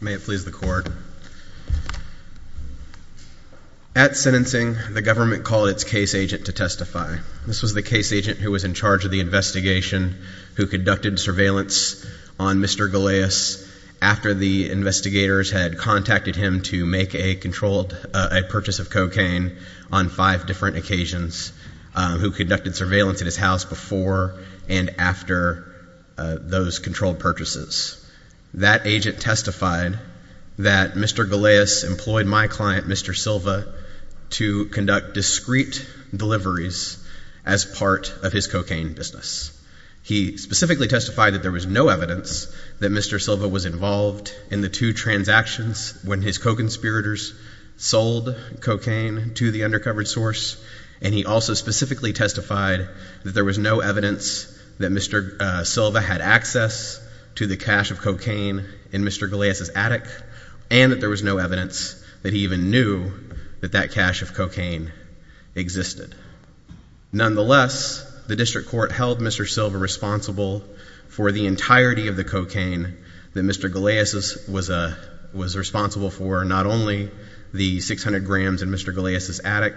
May it please the court. At sentencing, the government called its case agent to testify. This was the case agent who was in charge of the investigation, who conducted surveillance on Mr. Galeas after the investigators had contacted him to make a controlled purchase of cocaine on five different occasions, who conducted surveillance at his house before and after those controlled purchases. That agent testified that Mr. Galeas employed my client Mr. Silva to conduct discrete deliveries as part of his cocaine business. He specifically testified that there was no evidence that Mr. Silva was involved in the two transactions when his co-conspirators sold cocaine to the undercover source, and he also specifically testified that there was no evidence that Mr. Silva had access to the cache of cocaine in Mr. Galeas's attic, and that there was no evidence that he even knew that that cache of cocaine existed. Nonetheless, the district court held Mr. Silva responsible for the entirety of the cocaine that Mr. Galeas was responsible for, not only the 600 grams in Mr. Galeas's attic,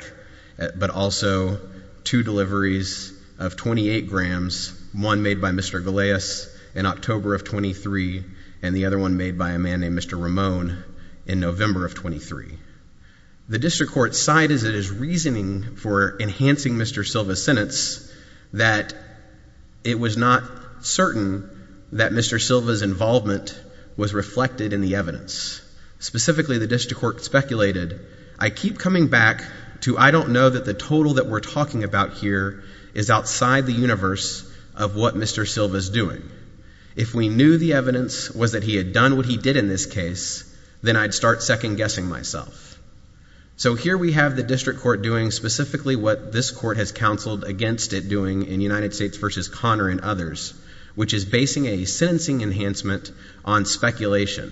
but also two deliveries of 28 grams, one made by Mr. Galeas in October of 23, and the other one made by a man named Mr. Ramon in November of 23. The district court's side is it is reasoning for enhancing Mr. Silva's sentence that it was not certain that Mr. Silva's involvement was reflected in the evidence. Specifically, the district court speculated, I keep coming back to I don't know that the total that we're talking about here is outside the universe of what Mr. Silva's doing. If we knew the evidence was that he had done what he did in this case, then I'd start second-guessing myself. So here we have the district court doing specifically what this court has counseled against it doing in United States v. Connor and others, which is basing a sentencing enhancement on speculation.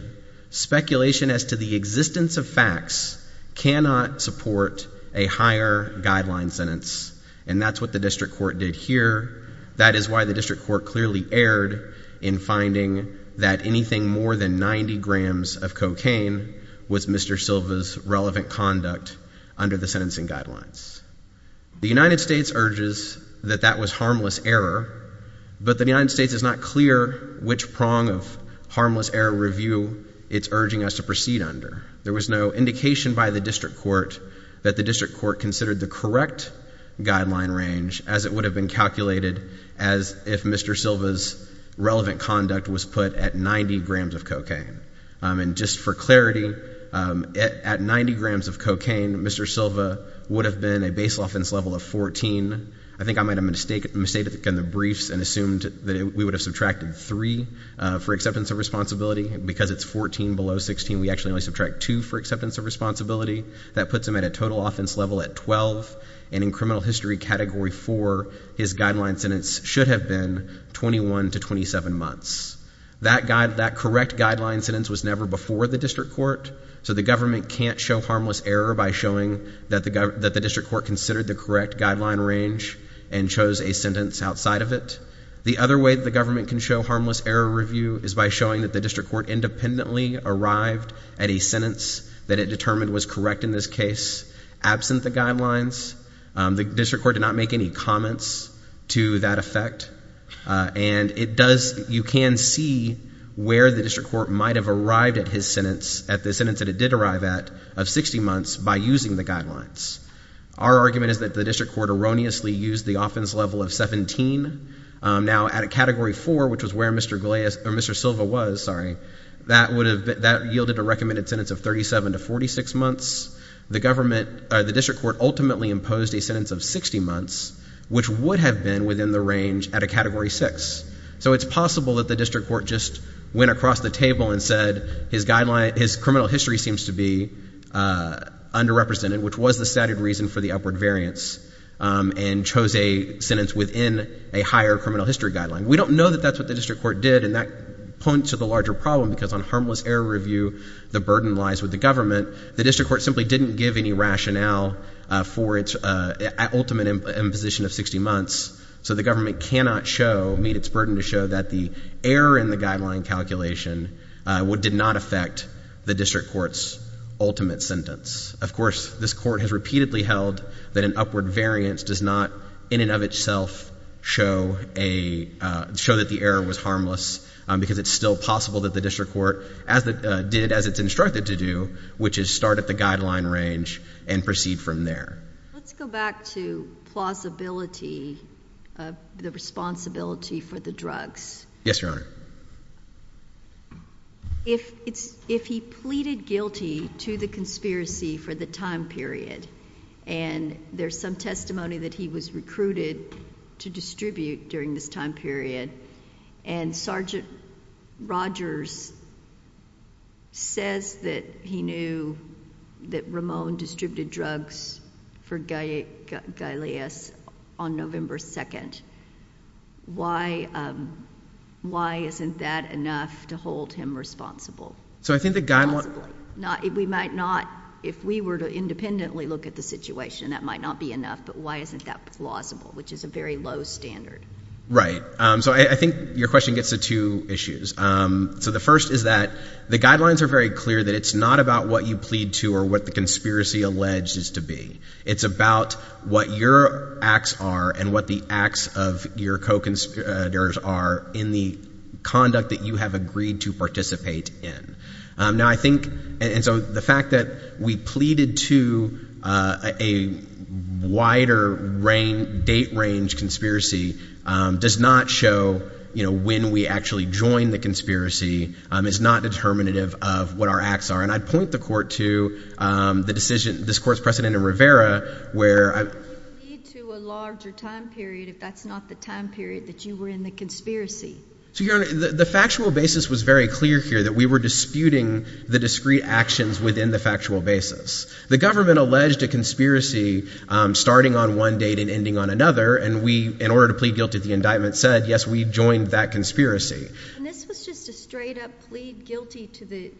Speculation as to the existence of facts cannot support a higher guideline sentence, and that's what the district court did here. That is why the district court clearly erred in finding that anything more than 90 grams of cocaine was Mr. Silva's relevant conduct under the sentencing guidelines. The United States urges that that was harmless error, but the United States is not clear which prong of harmless error review it's urging us to proceed under. There was no indication by the district court that the district court considered the correct guideline range as it would have been calculated as if Mr. Silva's relevant conduct was put at 90 grams of cocaine. And just for clarity, at 90 grams of cocaine, Mr. Silva would have been a basal offense level of 14. I think I made a mistake in the briefs and assumed that we would have subtracted 3 for acceptance of responsibility. Because it's 14 below 16, we actually only subtract 2 for acceptance of responsibility. That puts him at a total offense level at 12, and in criminal history category 4, his guideline sentence should have been 21 to 27 months. That correct guideline sentence was never before the district court, so the government can't show harmless error by showing that the district court considered the correct guideline range and chose a sentence outside of it. The other way the government can show harmless error review is by showing that the district court independently arrived at a sentence that it determined was correct in this case, absent the guidelines. The district court did not make any comments to that effect. And you can see where the district court might have arrived at his sentence, at the sentence that it did arrive at, of 60 months, by using the guidelines. Our argument is that the district court erroneously used the offense level of 17. Now, at a category 4, which is where Mr. Silva was, that yielded a recommended sentence of 37 to 46 months. The district court ultimately imposed a sentence of 60 months, which would have been within the range at a category 6. So it's possible that the district court just went across the table and said his criminal history seems to be underrepresented, which was the stated reason for the upward variance, and chose a sentence within a higher criminal history guideline. We don't know that that's what the district court did, and that points to the larger problem, because on harmless error review, the burden lies with the government. The district court simply didn't give any rationale for its ultimate imposition of 60 months. So the government cannot show, meet its burden to show that the error in the guideline calculation did not affect the district court's ultimate sentence. Of course, this court has repeatedly held that an upward variance does not, in and of itself, show that the error was harmless, because it's still possible that the district court did as it's instructed to do, which is start at the guideline range and proceed from there. Let's go back to plausibility of the responsibility for the drugs. Yes, Your Honor. If he pleaded guilty to the conspiracy for the time period, and there's some testimony that he was recruited to distribute during this time period, and Sergeant Rogers says that he knew that Ramon distributed drugs for Gaileas on November 2nd, why isn't that enough to hold him responsible? So I think the guy might... We might not, if we were to independently look at the situation, that might not be enough, but why isn't that plausible, which is a very low standard? Right. So I think your question gets to two issues. So the first is that the guidelines are very clear that it's not about what you plead to or what the conspiracy alleged is to be. It's about what your acts are and what the acts of your co-conspirators are in the conduct that you have agreed to participate in. Now I think, and so the fact that we pleaded to a wider date range conspiracy does not show when we actually joined the conspiracy. It's not determinative of what our acts are. And I'd point the Court to the decision, this Court's precedent in Rivera, where... It would lead to a larger time period if that's not the time period that you were in the conspiracy. So Your Honor, the factual basis was very clear here, that we were disputing the discrete actions within the factual basis. The government alleged a conspiracy starting on one date and ending on another, and we, in order to plead guilty to the indictment, said, yes, we joined that conspiracy. And this was just a straight-up plead guilty to the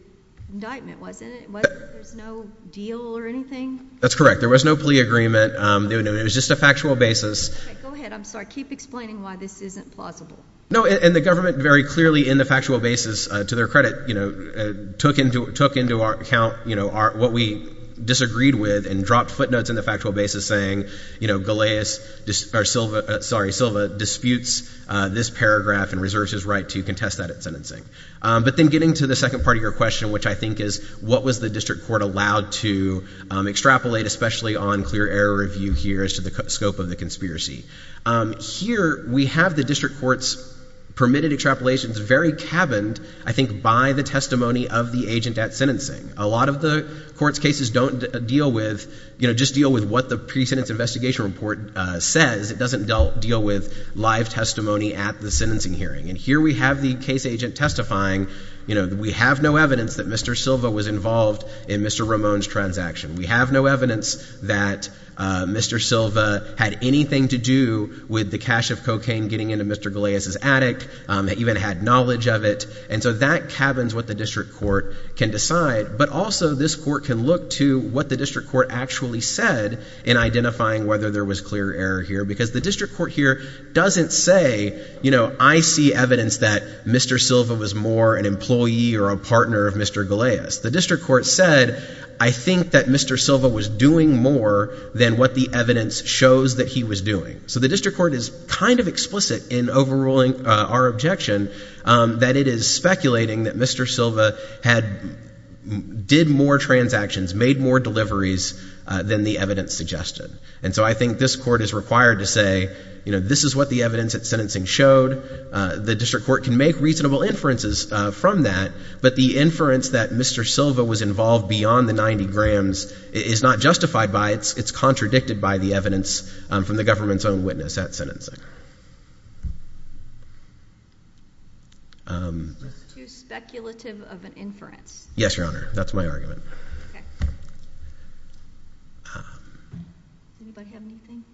indictment, wasn't it? There was no deal or anything? That's correct. There was no plea agreement. It was just a factual basis. Okay, go ahead. I'm sorry. Keep explaining why this isn't plausible. No, and the government very clearly, in the factual basis, to their credit, took into account what we disagreed with and dropped footnotes in the factual basis saying, you know, Galeas, or Silva, sorry, Silva disputes this paragraph and reserves his right to contest that at sentencing. But then getting to the second part of your question, which I think is, what was the District Court allowed to extrapolate, especially on clear error review here as to the scope of the conspiracy? Here we have the District Court's permitted extrapolations very cabined, I think, by the testimony of the agent at sentencing. A lot of the court's cases don't deal with, you know, just deal with what the pre-sentence investigation report says. It doesn't deal with live testimony at the sentencing hearing. And here we have the case agent testifying, you know, we have no evidence that Mr. Silva was involved in Mr. Ramon's transaction. We have no evidence that Mr. Silva had anything to do with the cache of cocaine getting into Mr. Galeas' attic, even had knowledge of it. And so that cabins what the District Court can decide, but also this court can look to what the District Court actually said in identifying whether there was clear error here, because the District Court here doesn't say, you know, I see evidence that Mr. Silva was more an employee or a partner of Mr. Galeas. The District Court said, I think that Mr. Silva was doing more than what the evidence shows that he was doing. So the District Court is kind of explicit in overruling our objection that it is speculating that Mr. Silva had, did more transactions, made more deliveries than the evidence suggested. And so I think this court is required to say, you know, this is what the evidence at sentencing showed. The District Court can make reasonable inferences from that, but the inference that Mr. Silva was involved beyond the 90 grams is not justified by, it's contradicted by the evidence from the government's own witness at sentencing. Is this too speculative of an inference? Yes, Your Honor. That's my argument. Anybody have anything?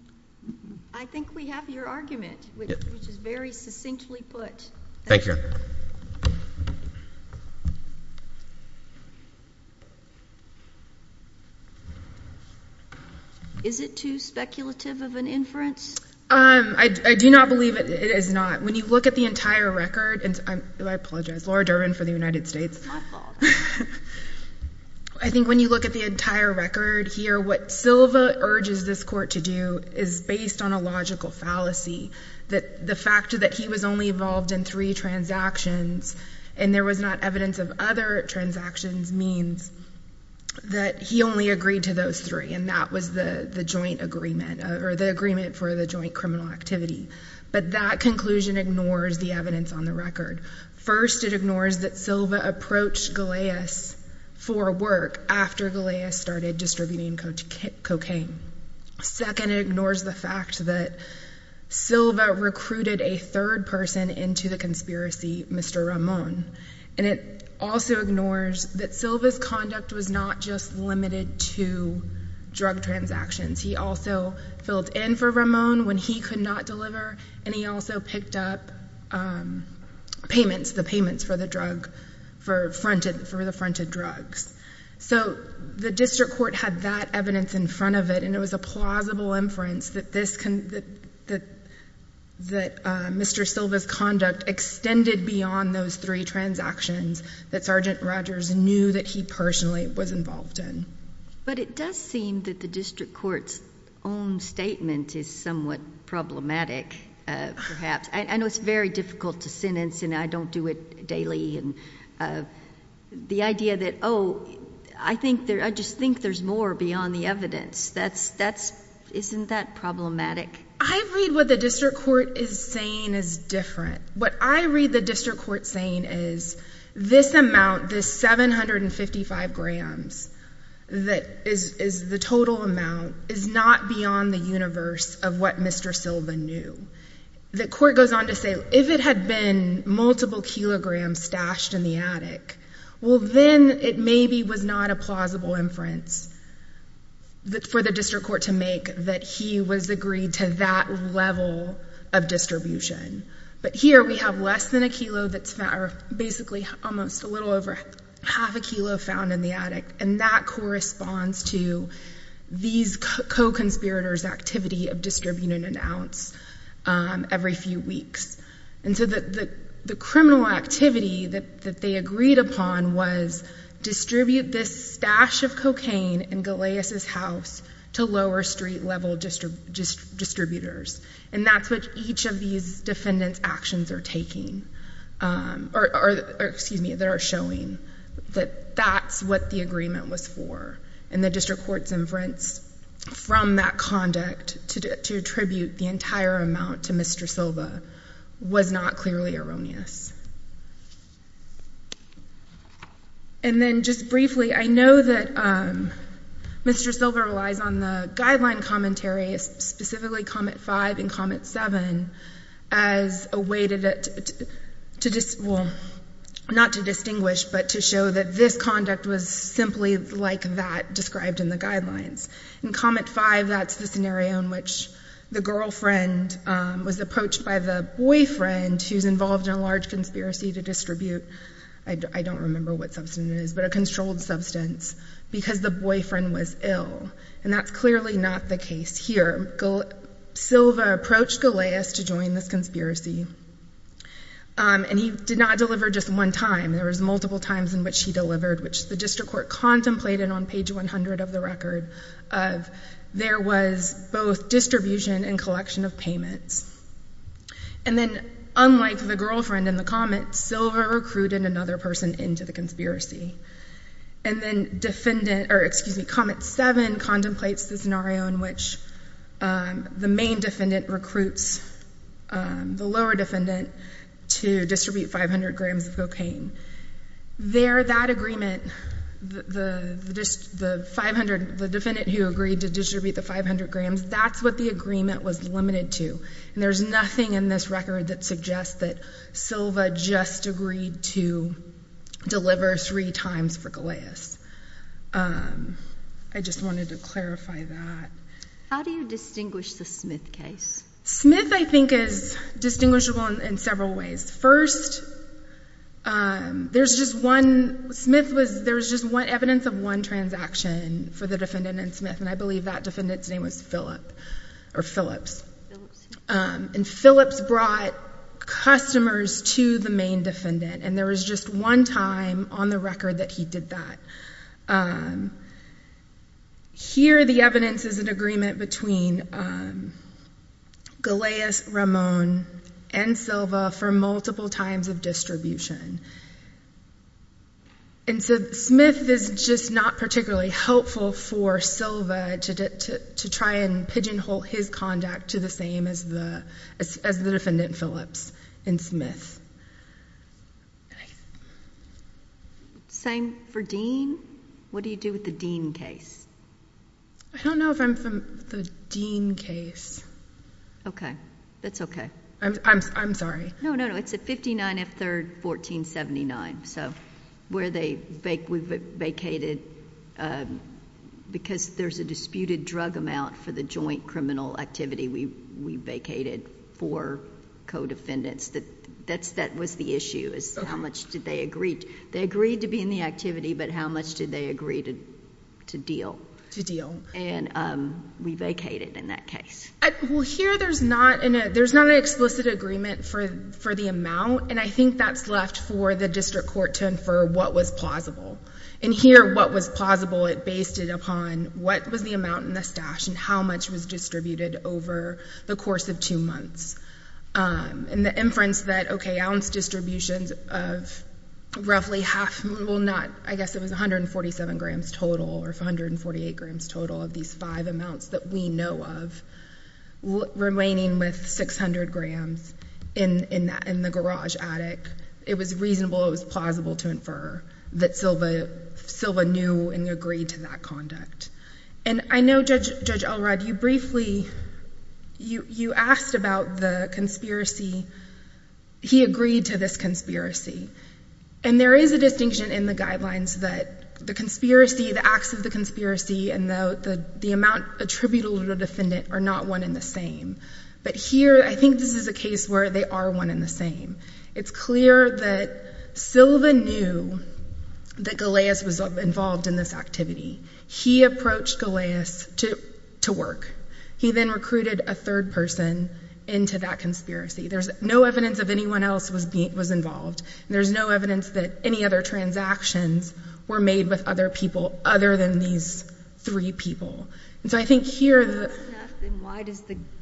I think we have your argument, which is very succinctly put. Thank you, Your Honor. Is it too speculative of an inference? I do not believe it is not. When you look at the entire record, and I apologize, Laura Durbin for the United States. It's my fault. I think when you look at the entire record here, what Silva urges this court to do is based on a logical fallacy, that the fact that he was only involved in three transactions and there was not evidence of other transactions means that he only agreed to those three, and that was the joint agreement, or the agreement for the joint criminal activity. But that conclusion ignores the evidence on the record. First, it ignores that Silva approached Galeas for work after Galeas started distributing cocaine. Second, it ignores the fact that Silva recruited a third person into the conspiracy, Mr. Ramon. And it also ignores that Silva's conduct was not just limited to drug transactions. He also filled in for Ramon when he could not deliver, and he also picked up payments, the payments for the drug, for the fronted drugs. So the district court had that evidence in front of it, and it was a plausible inference that Mr. Silva's conduct extended beyond those three transactions that Sergeant Rogers knew that he personally was involved in. But it does seem that the district court's own statement is somewhat problematic, perhaps. I know it's very difficult to sentence, and I don't do it daily. The idea that, oh, I just think there's more beyond the evidence, isn't that problematic? I read what the district court is saying is different. What I read the district court saying is this amount, this 755 grams that is the total amount, is not beyond the universe of what Mr. Silva knew. The court goes on to say if it had been multiple kilograms stashed in the attic, well, then it maybe was not a plausible inference for the district court to make that he was agreed to that level of distribution. But here we have less than a kilo that's found, or basically almost a little over half a kilo found in the attic, and that corresponds to these co-conspirators' activity of distributing an ounce every few weeks. And so the criminal activity that they agreed upon was distribute this stash of cocaine in Galeas' house to lower street-level distributors. And that's what each of these defendants' actions are taking, or, excuse me, that are showing, that that's what the agreement was for. And the district court's inference from that conduct to attribute the entire amount to Mr. Silva was not clearly erroneous. And then just briefly, I know that Mr. Silva relies on the guideline commentary, specifically Comet-5 and Comet-7, as a way to, well, not to distinguish, but to show that this conduct was simply like that described in the guidelines. In Comet-5, that's the scenario in which the girlfriend was approached by the boyfriend who's involved in a large conspiracy to distribute, I don't remember what substance it is, but a controlled substance, because the boyfriend was ill. And that's clearly not the case here. Silva approached Galeas to join this conspiracy, and he did not deliver just one time. There was multiple times in which he delivered, which the district court contemplated on page 100 of the record. There was both distribution and collection of payments. And then, unlike the girlfriend in the Comet, Silva recruited another person into the conspiracy. And then defendant, or, excuse me, Comet-7 contemplates the scenario in which the main defendant recruits the lower defendant to distribute 500 grams of cocaine. There, that agreement, the defendant who agreed to distribute the 500 grams, that's what the agreement was limited to. And there's nothing in this record that suggests that Silva just agreed to deliver three times for Galeas. I just wanted to clarify that. How do you distinguish the Smith case? Smith, I think, is distinguishable in several ways. First, there's just one, Smith was, there was just evidence of one transaction for the defendant and Smith, and I believe that defendant's name was Phillip, or Phillips. And Phillips brought customers to the main defendant, and there was just one time on the record that he did that. Here, the evidence is an agreement between Galeas, Ramon, and Silva for multiple times of distribution. And so, Smith is just not particularly helpful for Silva to try and pigeonhole his conduct to the same as the defendant, Phillips, and Smith. Same for Dean? What do you do with the Dean case? I don't know if I'm familiar with the Dean case. Okay. That's okay. I'm sorry. No, no, no, it's at 59 F. 3rd, 1479. So, where they vacated, because there's a disputed drug amount for the joint criminal activity, we vacated four co-defendants. That was the issue, is how much did they agree? They agreed to be in the activity, but how much did they agree to deal? To deal. And we vacated in that case. Well, here, there's not an explicit agreement for the amount, and I think that's left for the district court to infer what was plausible. And here, what was plausible, it based it upon what was the amount in the stash and how much was distributed over the course of two months. And the inference that, okay, ounce distributions of roughly half, well, not, I guess it was 147 grams total, or 148 grams total of these five amounts that we know of, remaining with 600 grams in the garage attic, it was reasonable, it was plausible to infer that Silva knew and agreed to that conduct. And I know, Judge Elrod, you briefly, you asked about the conspiracy. He agreed to this conspiracy. And there is a distinction in the guidelines that the conspiracy, the acts of the conspiracy, and the amount attributable to the defendant are not one and the same. But here, I think this is a case where they are one and the same. It's clear that Silva knew that Galeas was involved in this activity. He approached Galeas to work. He then recruited a third person into that conspiracy. There's no evidence that anyone else was involved, and there's no evidence that any other transactions were made with other people other than these three people. And so I think here the—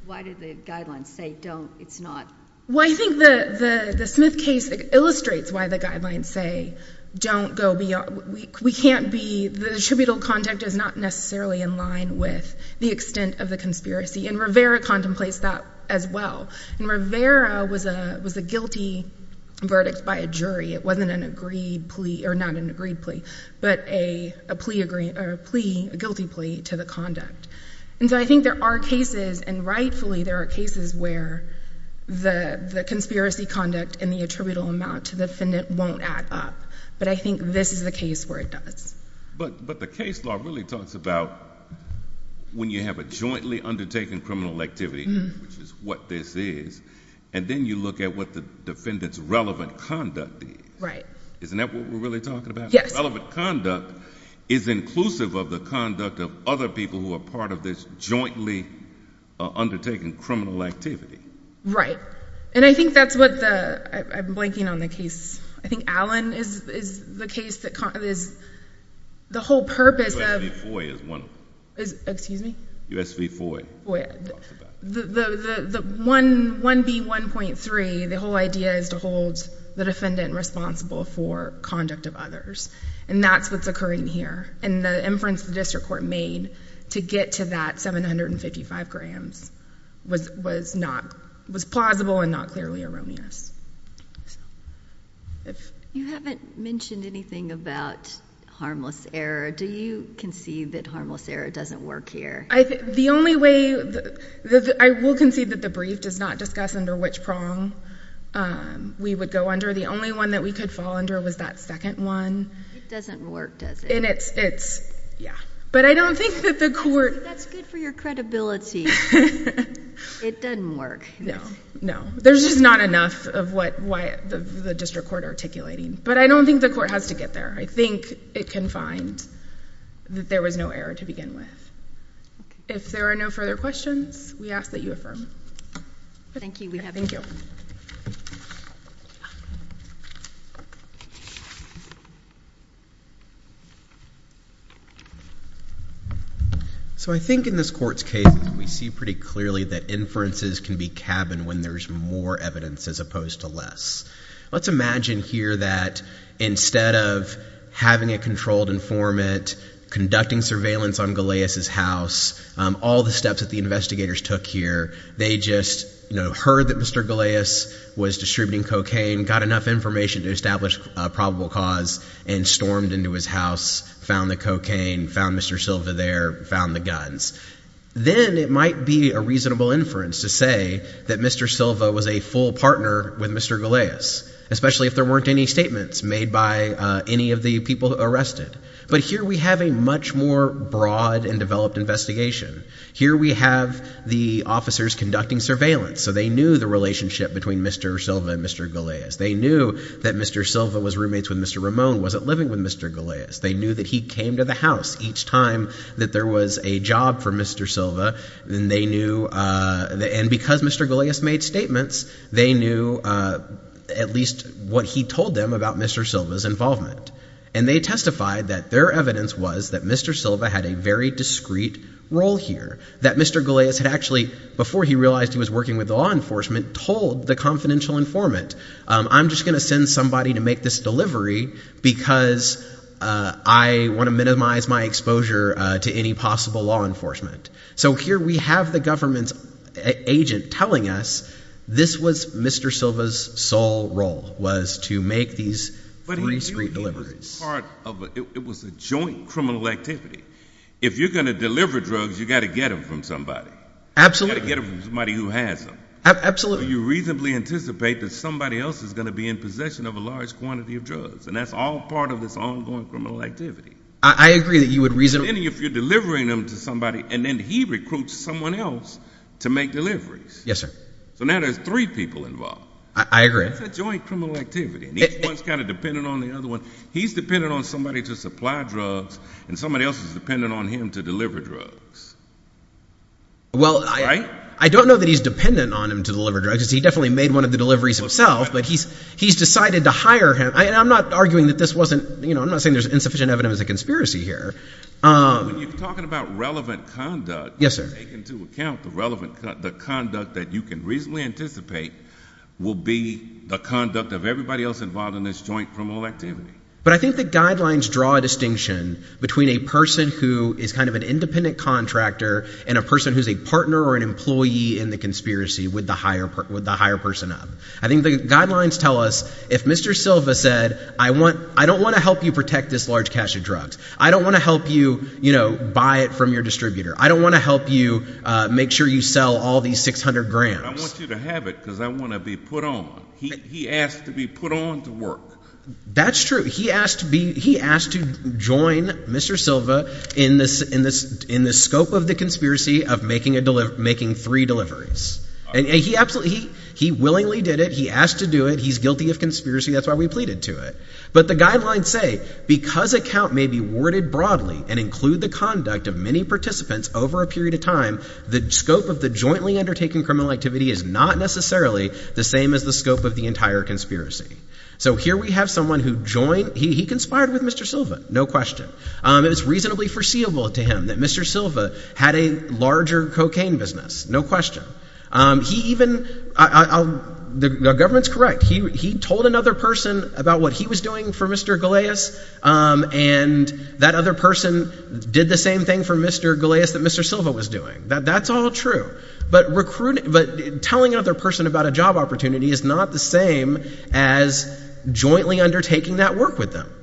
Why did the guidelines say don't, it's not? Well, I think the Smith case illustrates why the guidelines say don't go beyond, we can't be, the attributable conduct is not necessarily in line with the extent of the conspiracy, and Rivera contemplates that as well. And Rivera was a guilty verdict by a jury. It wasn't an agreed plea, or not an agreed plea, but a plea, a guilty plea to the conduct. And so I think there are cases, and rightfully there are cases, where the conspiracy conduct and the attributable amount to the defendant won't add up. But I think this is the case where it does. But the case law really talks about when you have a jointly undertaken criminal activity, which is what this is, and then you look at what the defendant's relevant conduct is. Right. Isn't that what we're really talking about? Yes. The defendant's relevant conduct is inclusive of the conduct of other people who are part of this jointly undertaken criminal activity. And I think that's what the—I'm blanking on the case. I think Allen is the case that is the whole purpose of— U.S. v. Foy is one of them. Excuse me? U.S. v. Foy. The 1B1.3, the whole idea is to hold the defendant responsible for conduct of others. And that's what's occurring here. And the inference the district court made to get to that 755 grams was plausible and not clearly erroneous. You haven't mentioned anything about harmless error. Do you concede that harmless error doesn't work here? The only way—I will concede that the brief does not discuss under which prong we would go under. The only one that we could fall under was that second one. It doesn't work, does it? And it's—yeah. But I don't think that the court— That's good for your credibility. It doesn't work. No. No. There's just not enough of what the district court articulating. But I don't think the court has to get there. I think it can find that there was no error to begin with. If there are no further questions, we ask that you affirm. Thank you. We have— Thank you. So I think in this court's case, we see pretty clearly that inferences can be cabin when there's more evidence as opposed to less. Let's imagine here that instead of having a controlled informant conducting surveillance on Galeas' house, all the steps that the investigators took here, they just heard that Mr. Galeas was distributing cocaine, got enough information to establish a probable cause, and stormed into his house, found the cocaine, found Mr. Silva there, found the guns. Then it might be a reasonable inference to say that Mr. Silva was a full partner with Mr. Galeas, especially if there weren't any statements made by any of the people arrested. But here we have a much more broad and developed investigation. Here we have the officers conducting surveillance, so they knew the relationship between Mr. Silva and Mr. Galeas. They knew that Mr. Silva was roommates with Mr. Ramon, wasn't living with Mr. Galeas. They knew that he came to the house each time that there was a job for Mr. Silva, and because Mr. Galeas made statements, they knew at least what he told them about Mr. Silva's involvement. And they testified that their evidence was that Mr. Silva had a very discreet role here, that Mr. Galeas had actually, before he realized he was working with law enforcement, told the confidential informant, I'm just going to send somebody to make this delivery because I want to minimize my exposure to any possible law enforcement. So here we have the government's agent telling us this was Mr. Silva's sole role, was to make these free street deliveries. It was a joint criminal activity. If you're going to deliver drugs, you've got to get them from somebody. Absolutely. You've got to get them from somebody who has them. Absolutely. You reasonably anticipate that somebody else is going to be in possession of a large quantity of drugs, and that's all part of this ongoing criminal activity. I agree that you would reasonably – And then if you're delivering them to somebody, and then he recruits someone else to make deliveries. Yes, sir. So now there's three people involved. I agree. It's a joint criminal activity, and each one is kind of dependent on the other one. He's dependent on somebody to supply drugs, and somebody else is dependent on him to deliver drugs. Well, I don't know that he's dependent on him to deliver drugs. He definitely made one of the deliveries himself, but he's decided to hire him. I'm not arguing that this wasn't – I'm not saying there's insufficient evidence of conspiracy here. When you're talking about relevant conduct, take into account the relevant – the conduct that you can reasonably anticipate will be the conduct of everybody else involved in this joint criminal activity. But I think the guidelines draw a distinction between a person who is kind of an independent contractor and a person who's a partner or an employee in the conspiracy with the hire person up. I think the guidelines tell us if Mr. Silva said, I don't want to help you protect this large cache of drugs. I don't want to help you buy it from your distributor. I don't want to help you make sure you sell all these 600 grams. I want you to have it because I want to be put on. He asked to be put on to work. That's true. He asked to be – he asked to join Mr. Silva in the scope of the conspiracy of making three deliveries. And he absolutely – he willingly did it. He asked to do it. He's guilty of conspiracy. That's why we pleaded to it. But the guidelines say because a count may be worded broadly and include the conduct of many participants over a period of time, the scope of the jointly undertaken criminal activity is not necessarily the same as the scope of the entire conspiracy. So here we have someone who joined – he conspired with Mr. Silva, no question. It was reasonably foreseeable to him that Mr. Silva had a larger cocaine business, no question. He even – the government's correct. He told another person about what he was doing for Mr. Galeas, and that other person did the same thing for Mr. Galeas that Mr. Silva was doing. That's all true. But telling another person about a job opportunity is not the same as jointly undertaking that work with them.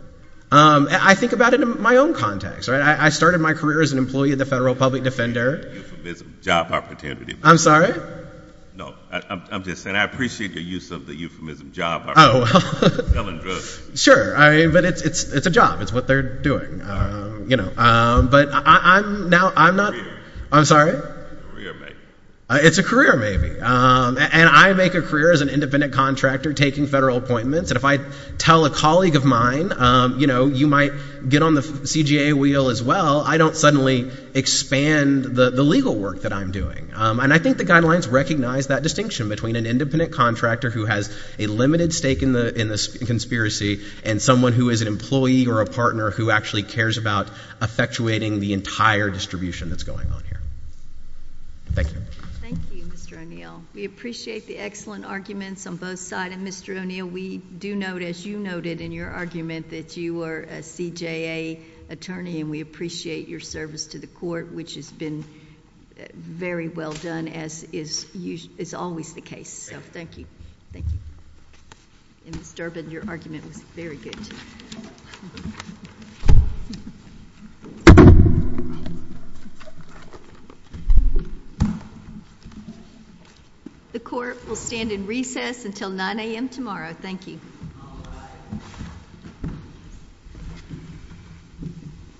I think about it in my own context. I started my career as an employee of the Federal Public Defender. Euphemism, job opportunity. I'm sorry? No. I'm just saying I appreciate your use of the euphemism, job opportunity. Oh, well. Selling drugs. Sure. But it's a job. It's what they're doing. But now I'm not – I'm sorry? Career, maybe. It's a career, maybe. And I make a career as an independent contractor taking federal appointments. And if I tell a colleague of mine, you know, you might get on the CGA wheel as well, I don't suddenly expand the legal work that I'm doing. And I think the guidelines recognize that distinction between an independent contractor who has a limited stake in the conspiracy and someone who is an employee or a partner who actually cares about effectuating the entire distribution that's going on here. Thank you. Thank you, Mr. O'Neill. We appreciate the excellent arguments on both sides. And, Mr. O'Neill, we do note, as you noted in your argument, that you are a CJA attorney, and we appreciate your service to the court, which has been very well done, as is always the case. So thank you. Thank you. And, Ms. Durbin, your argument was very good, too. Thank you. The court will stand in recess until 9 a.m. tomorrow. Thank you.